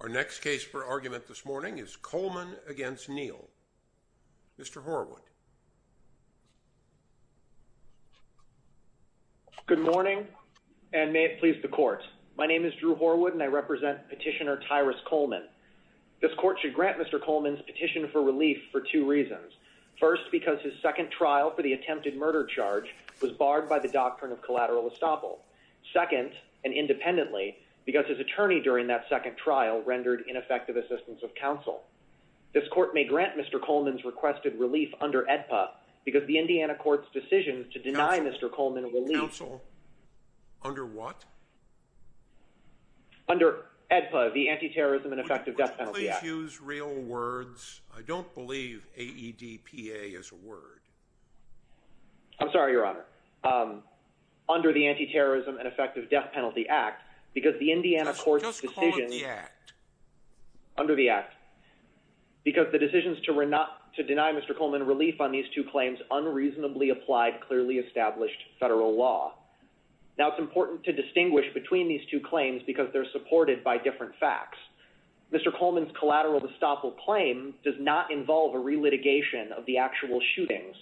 Our next case for argument this morning is Coleman against Neal. Mr. Horwood. Good morning, and may it please the court. My name is Drew Horwood, and I represent petitioner Tyrus Coleman. This court should grant Mr. Coleman's petition for relief for two reasons. First, because his second trial for the attempted murder charge was barred by the doctrine of collateral estoppel. Second, and independently, because his attorney during that second trial rendered ineffective assistance of counsel. This court may grant Mr. Coleman's requested relief under AEDPA, because the Indiana court's decision to deny Mr. Coleman relief… Counsel? Under what? Under AEDPA, the Anti-Terrorism and Effective Death Penalty Act. Would you please use real words? I don't believe AEDPA is a word. I'm sorry, Your Honor. Under the Anti-Terrorism and Effective Death Penalty Act, because the Indiana court's decision… Just call it the act. Under the act. Because the decisions to deny Mr. Coleman relief on these two claims unreasonably applied clearly established federal law. Now, it's important to distinguish between these two claims because they're supported by different facts. Mr. Coleman's collateral estoppel claim does not involve a relitigation of the actual shootings.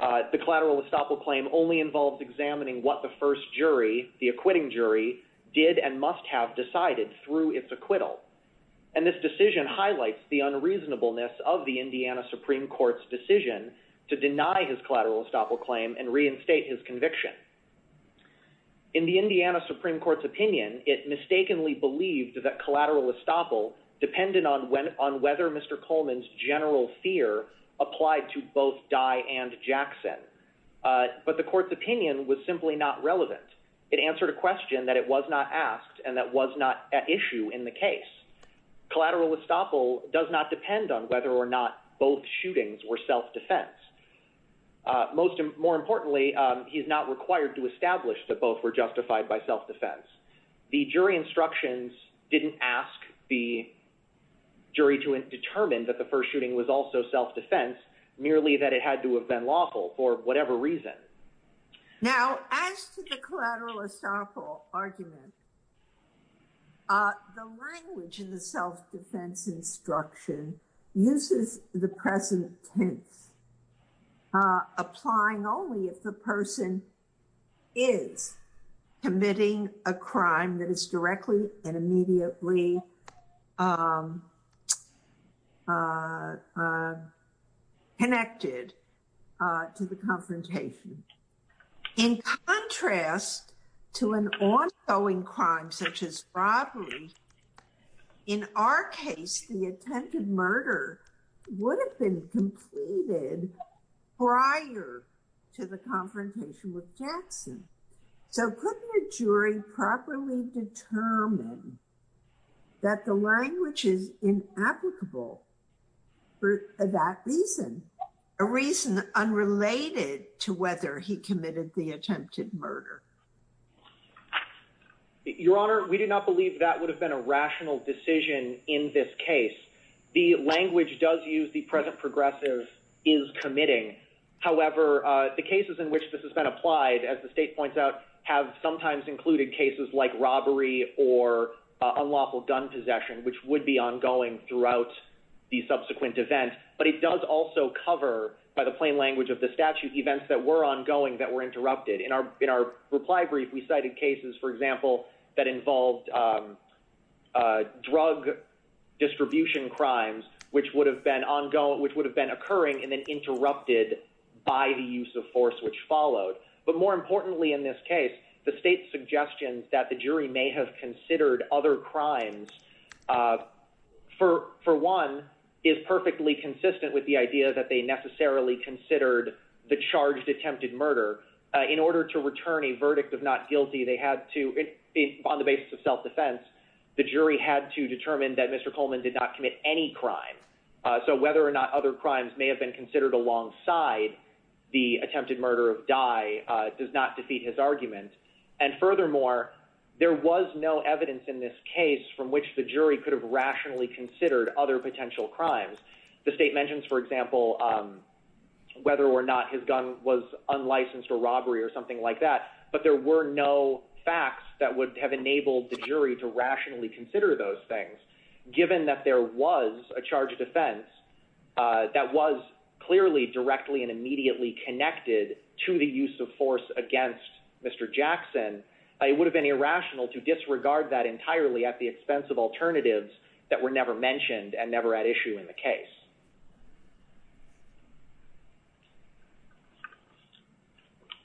The collateral estoppel claim only involves examining what the first jury, the acquitting jury, did and must have decided through its acquittal. And this decision highlights the unreasonableness of the Indiana Supreme Court's decision to deny his collateral estoppel claim and reinstate his conviction. In the Indiana Supreme Court's opinion, it mistakenly believed that collateral estoppel depended on whether Mr. Coleman's general fear applied to both Dye and Jackson. But the court's opinion was simply not relevant. It answered a question that it was not asked and that was not at issue in the case. Collateral estoppel does not depend on whether or not both shootings were self-defense. More importantly, he is not required to establish that both were justified by self-defense. The jury instructions didn't ask the jury to determine that the first shooting was also self-defense, merely that it had to have been lawful for whatever reason. Now, as to the collateral estoppel argument, the language in the self-defense instruction uses the present tense, applying only if the person is committing a crime that is directly and immediately connected to the confrontation. In contrast to an ongoing crime such as robbery, in our case, the attempted murder would have been completed prior to the confrontation with Jackson. So couldn't a jury properly determine that the language is inapplicable for that reason? A reason unrelated to whether he committed the attempted murder. Your Honor, we do not believe that would have been a rational decision in this case. The language does use the present progressive is committing. However, the cases in which this has been applied, as the state points out, have sometimes included cases like robbery or unlawful gun possession, which would be ongoing throughout the subsequent event. But it does also cover, by the plain language of the statute, events that were ongoing that were interrupted. In our reply brief, we cited cases, for example, that involved drug distribution crimes, which would have been occurring and then interrupted by the use of force which followed. But more importantly in this case, the state's suggestions that the jury may have considered other crimes, for one, is perfectly consistent with the idea that they necessarily considered the charged attempted murder. In order to return a verdict of not guilty, on the basis of self-defense, the jury had to determine that Mr. Coleman did not commit any crime. So whether or not other crimes may have been considered alongside the attempted murder of Dye does not defeat his argument. And furthermore, there was no evidence in this case from which the jury could have rationally considered other potential crimes. The state mentions, for example, whether or not his gun was unlicensed for robbery or something like that. But there were no facts that would have enabled the jury to rationally consider those things, given that there was a charge of defense that was clearly directly and immediately connected to the use of force against Mr. Jackson. It would have been irrational to disregard that entirely at the expense of alternatives that were never mentioned and never at issue in the case.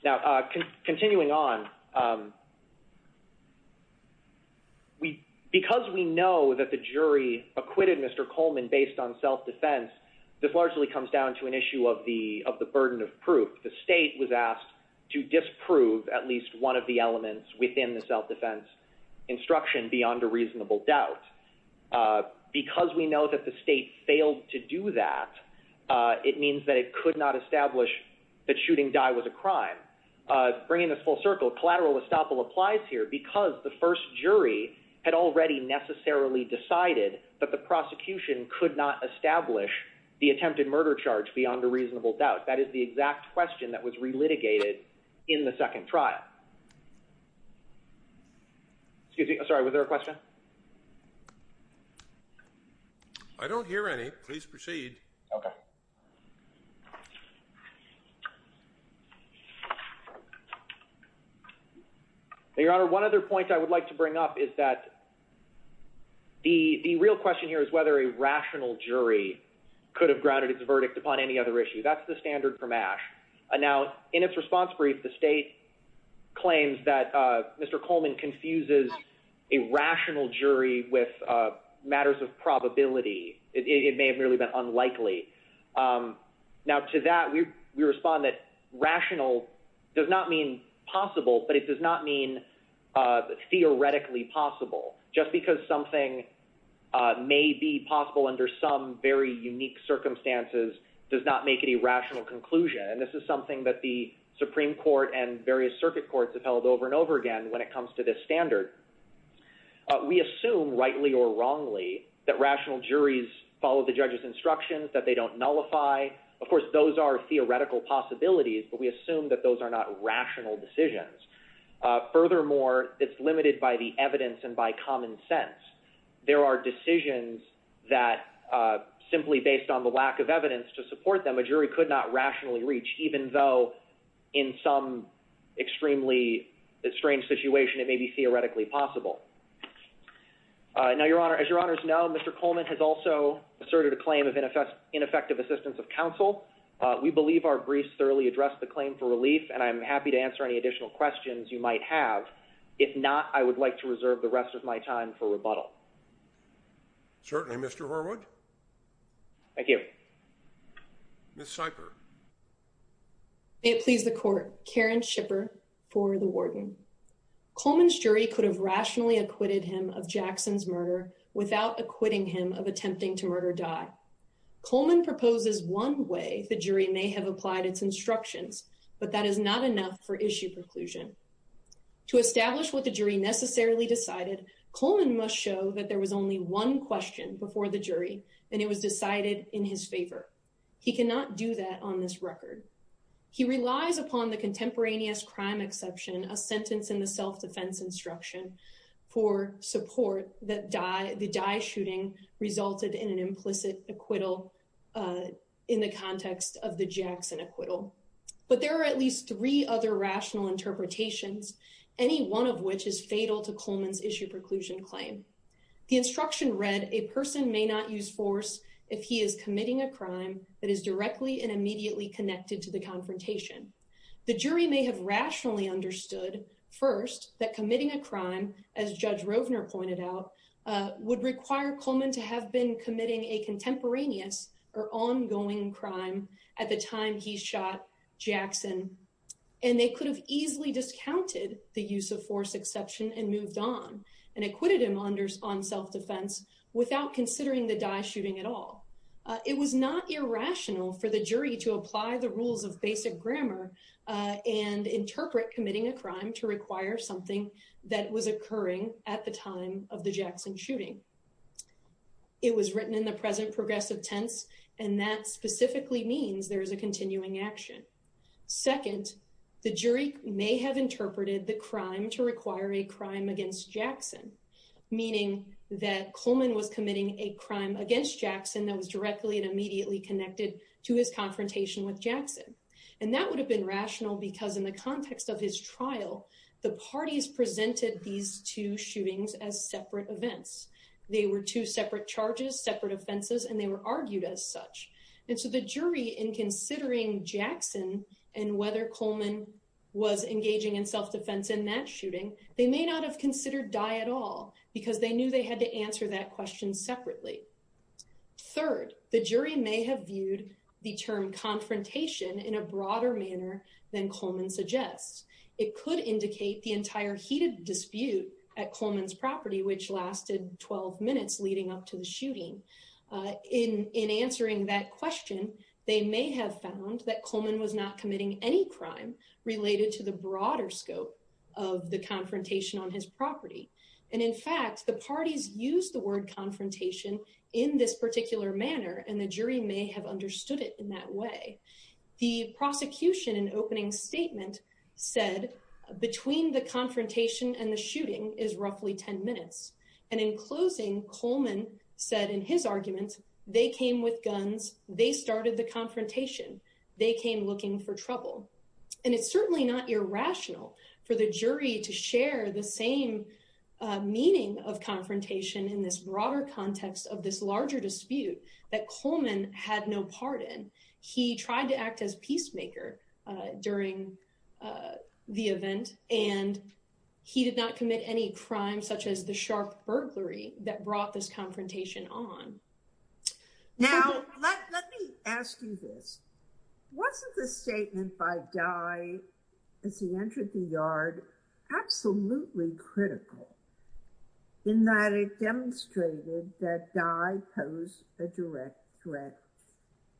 Now, continuing on, because we know that the jury acquitted Mr. Coleman based on self-defense, this largely comes down to an issue of the burden of proof. The state was asked to disprove at least one of the elements within the self-defense instruction beyond a reasonable doubt. Because we know that the state failed to do that, it means that it could not establish that shooting Dye was a crime. Bringing this full circle, collateral estoppel applies here because the first jury had already necessarily decided that the prosecution could not establish the attempted murder charge beyond a reasonable doubt. That is the exact question that was relitigated in the second trial. Excuse me. I'm sorry. Was there a question? I don't hear any. Please proceed. Okay. Your Honor, one other point I would like to bring up is that the real question here is whether a rational jury could have grounded its verdict upon any other issue. That's the standard from Ashe. Now, in its response brief, the state claims that Mr. Coleman confuses a rational jury with matters of probability. It may have merely been unlikely. Now, to that, we respond that rational does not mean possible, but it does not mean theoretically possible. Just because something may be possible under some very unique circumstances does not make any rational conclusion. And this is something that the Supreme Court and various circuit courts have held over and over again when it comes to this standard. We assume, rightly or wrongly, that rational juries follow the judge's instructions, that they don't nullify. Of course, those are theoretical possibilities, but we assume that those are not rational decisions. Furthermore, it's limited by the evidence and by common sense. There are decisions that, simply based on the lack of evidence to support them, a jury could not rationally reach, even though in some extremely strange situation it may be theoretically possible. Now, Your Honor, as Your Honors know, Mr. Coleman has also asserted a claim of ineffective assistance of counsel. We believe our briefs thoroughly address the claim for relief, and I'm happy to answer any additional questions you might have. If not, I would like to reserve the rest of my time for rebuttal. Certainly, Mr. Horwood. Thank you. Ms. Sikor. May it please the Court, Karen Shipper for the Warden. Coleman's jury could have rationally acquitted him of Jackson's murder without acquitting him of attempting to murder Dye. Coleman proposes one way the jury may have applied its instructions, but that is not enough for issue preclusion. To establish what the jury necessarily decided, Coleman must show that there was only one question before the jury, and it was decided in his favor. He cannot do that on this record. He relies upon the contemporaneous crime exception, a sentence in the self-defense instruction, for support that the Dye shooting resulted in an implicit acquittal in the context of the Jackson acquittal. But there are at least three other rational interpretations, any one of which is fatal to Coleman's issue preclusion claim. The instruction read, a person may not use force if he is committing a crime that is directly and immediately connected to the confrontation. The jury may have rationally understood, first, that committing a crime, as Judge Rovner pointed out, would require Coleman to have been committing a contemporaneous or ongoing crime at the time he shot Jackson. And they could have easily discounted the use of force exception and moved on and acquitted him on self-defense without considering the Dye shooting at all. It was not irrational for the jury to apply the rules of basic grammar and interpret committing a crime to require something that was occurring at the time of the Jackson shooting. It was written in the present progressive tense, and that specifically means there is a continuing action. Second, the jury may have interpreted the crime to require a crime against Jackson, meaning that Coleman was committing a crime against Jackson that was directly and immediately connected to his confrontation with Jackson. And that would have been rational because in the context of his trial, the parties presented these two shootings as separate events. They were two separate charges, separate offenses, and they were argued as such. And so the jury, in considering Jackson and whether Coleman was engaging in self-defense in that shooting, they may not have considered Dye at all because they knew they had to answer that question separately. Third, the jury may have viewed the term confrontation in a broader manner than Coleman suggests. It could indicate the entire heated dispute at Coleman's property, which lasted 12 minutes leading up to the shooting. In answering that question, they may have found that Coleman was not committing any crime related to the broader scope of the confrontation on his property. And in fact, the parties used the word confrontation in this particular manner, and the jury may have understood it in that way. The prosecution, in opening statement, said between the confrontation and the shooting is roughly 10 minutes. And in closing, Coleman said in his arguments, they came with guns. They started the confrontation. They came looking for trouble. And it's certainly not irrational for the jury to share the same meaning of confrontation in this broader context of this larger dispute that Coleman had no part in. He tried to act as peacemaker during the event, and he did not commit any crime such as the sharp burglary that brought this confrontation on. Now, let me ask you this. Wasn't the statement by Dye as he entered the yard absolutely critical in that it demonstrated that Dye posed a direct threat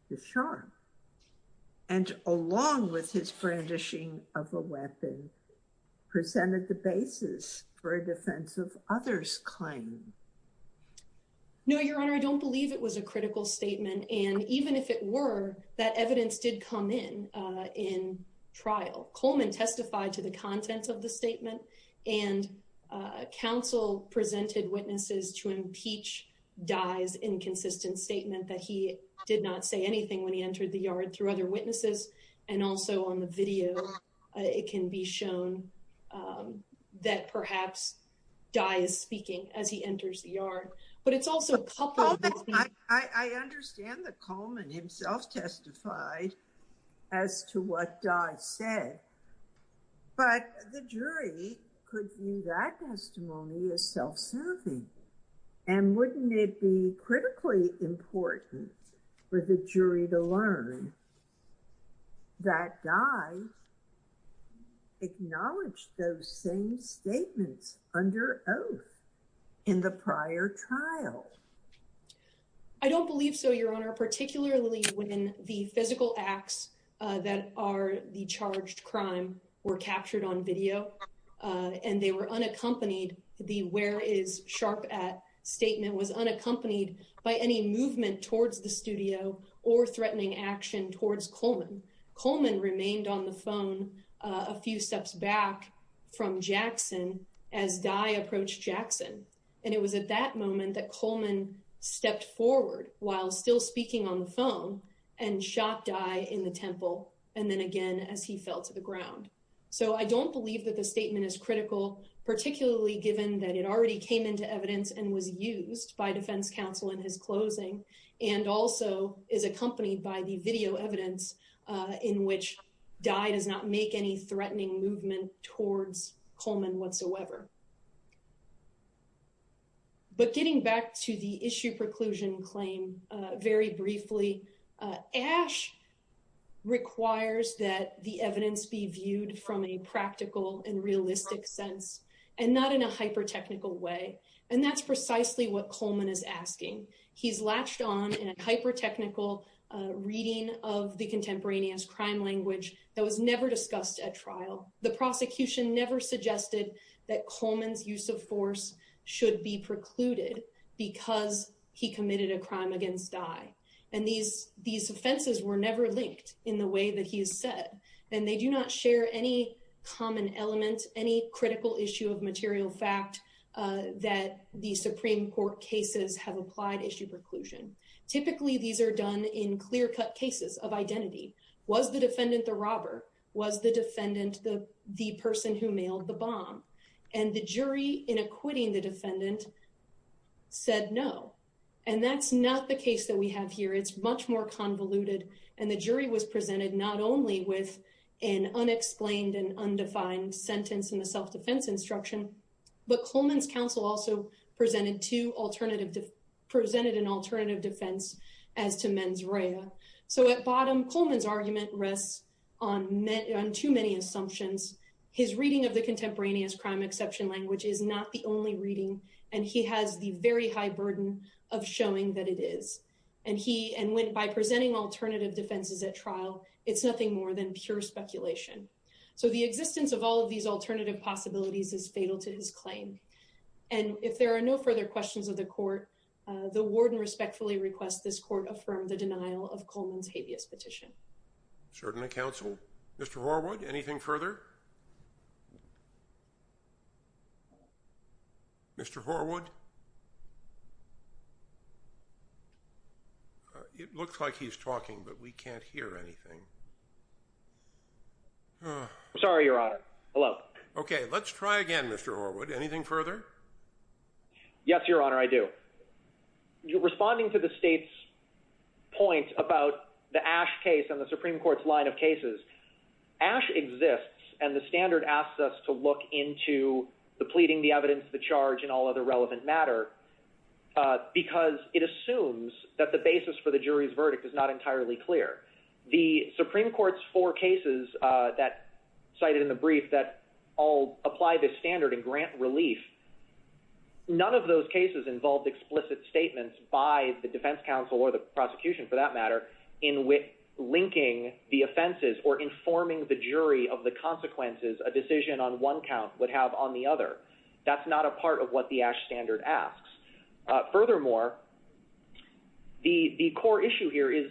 to Sharp? And along with his brandishing of a weapon, presented the basis for a defense of others' claim. No, Your Honor, I don't believe it was a critical statement. And even if it were, that evidence did come in in trial. Coleman testified to the content of the statement, and counsel presented witnesses to impeach Dye's inconsistent statement that he did not say anything when he entered the yard through other witnesses. And also on the video, it can be shown that perhaps Dye is speaking as he enters the yard. But it's also a couple of these things. I understand that Coleman himself testified as to what Dye said. But the jury could view that testimony as self-serving. And wouldn't it be critically important for the jury to learn that Dye acknowledged those same statements under oath in the prior trial? I don't believe so, Your Honor, particularly when the physical acts that are the charged crime were captured on video and they were unaccompanied. The where is Sharp at statement was unaccompanied by any movement towards the studio or threatening action towards Coleman. Coleman remained on the phone a few steps back from Jackson as Dye approached Jackson. And it was at that moment that Coleman stepped forward while still speaking on the phone and shot Dye in the temple. And then again, as he fell to the ground. So I don't believe that the statement is critical, particularly given that it already came into evidence and was used by defense counsel in his closing and also is accompanied by the video evidence in which Dye does not make any threatening movement towards Coleman whatsoever. But getting back to the issue preclusion claim very briefly, Ash requires that the evidence be viewed from a practical and realistic sense and not in a hyper technical way. And that's precisely what Coleman is asking. He's latched on in a hyper technical reading of the contemporaneous crime language that was never discussed at trial. The prosecution never suggested that Coleman's use of force should be precluded because he committed a crime against Dye. And these these offenses were never linked in the way that he said, and they do not share any common element, any critical issue of material fact that the Supreme Court cases have applied issue preclusion. Typically, these are done in clear cut cases of identity. Was the defendant the robber? Was the defendant the person who mailed the bomb? And the jury in acquitting the defendant said no. And that's not the case that we have here. It's much more convoluted. And the jury was presented not only with an unexplained and undefined sentence in the self-defense instruction. But Coleman's counsel also presented to alternative presented an alternative defense as to mens rea. So at bottom, Coleman's argument rests on too many assumptions. His reading of the contemporaneous crime exception language is not the only reading. And he has the very high burden of showing that it is. And he and went by presenting alternative defenses at trial. It's nothing more than pure speculation. So the existence of all of these alternative possibilities is fatal to his claim. And if there are no further questions of the court, the warden respectfully request. This court affirmed the denial of Coleman's habeas petition. Certainly, counsel. Mr. Horwood, anything further? Mr. Horwood. It looks like he's talking, but we can't hear anything. Sorry, your honor. Hello. Okay. Let's try again. Mr. Horwood. Anything further? Yes, your honor. I do. You're responding to the state's point about the ash case on the Supreme Court's line of cases. Ash exists. And the standard asks us to look into the pleading, the evidence, the charge and all other relevant matter. Because it assumes that the basis for the jury's verdict is not entirely clear. The Supreme Court's four cases that cited in the brief that all apply this standard and grant relief, none of those cases involved explicit statements by the defense counsel or the prosecution, for that matter, in linking the offenses or informing the jury of the consequences a decision on one count would have on the other. That's not a part of what the ash standard asks. Furthermore, the core issue here is,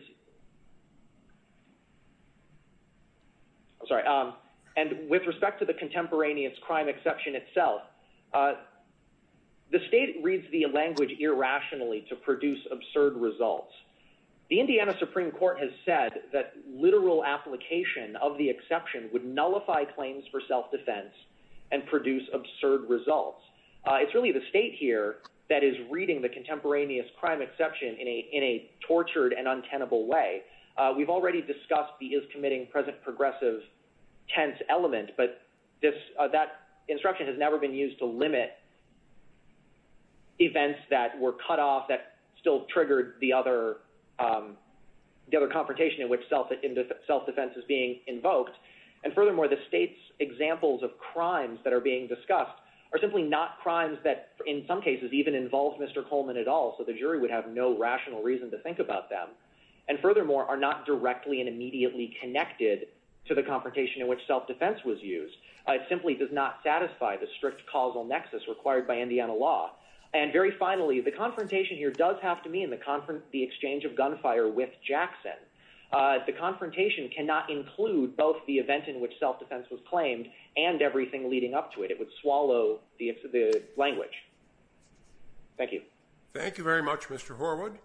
I'm sorry, and with respect to the contemporaneous crime exception itself, the state reads the language irrationally to produce absurd results. The Indiana Supreme Court has said that literal application of the exception would nullify claims for self-defense and produce absurd results. It's really the state here that is reading the contemporaneous crime exception in a tortured and untenable way. We've already discussed the is committing present progressive tense element, but that instruction has never been used to limit events that were cut off, that still triggered the other confrontation in which self-defense is being invoked. Furthermore, the state's examples of crimes that are being discussed are simply not crimes that in some cases even involve Mr. Coleman at all, so the jury would have no rational reason to think about them, and furthermore are not directly and immediately connected to the confrontation in which self-defense was used. It simply does not satisfy the strict causal nexus required by Indiana law. Very finally, the confrontation here does have to mean the exchange of gunfire with Jackson. The confrontation cannot include both the event in which self-defense was claimed and everything leading up to it. It would swallow the language. Thank you. Thank you very much, Mr. Horwood.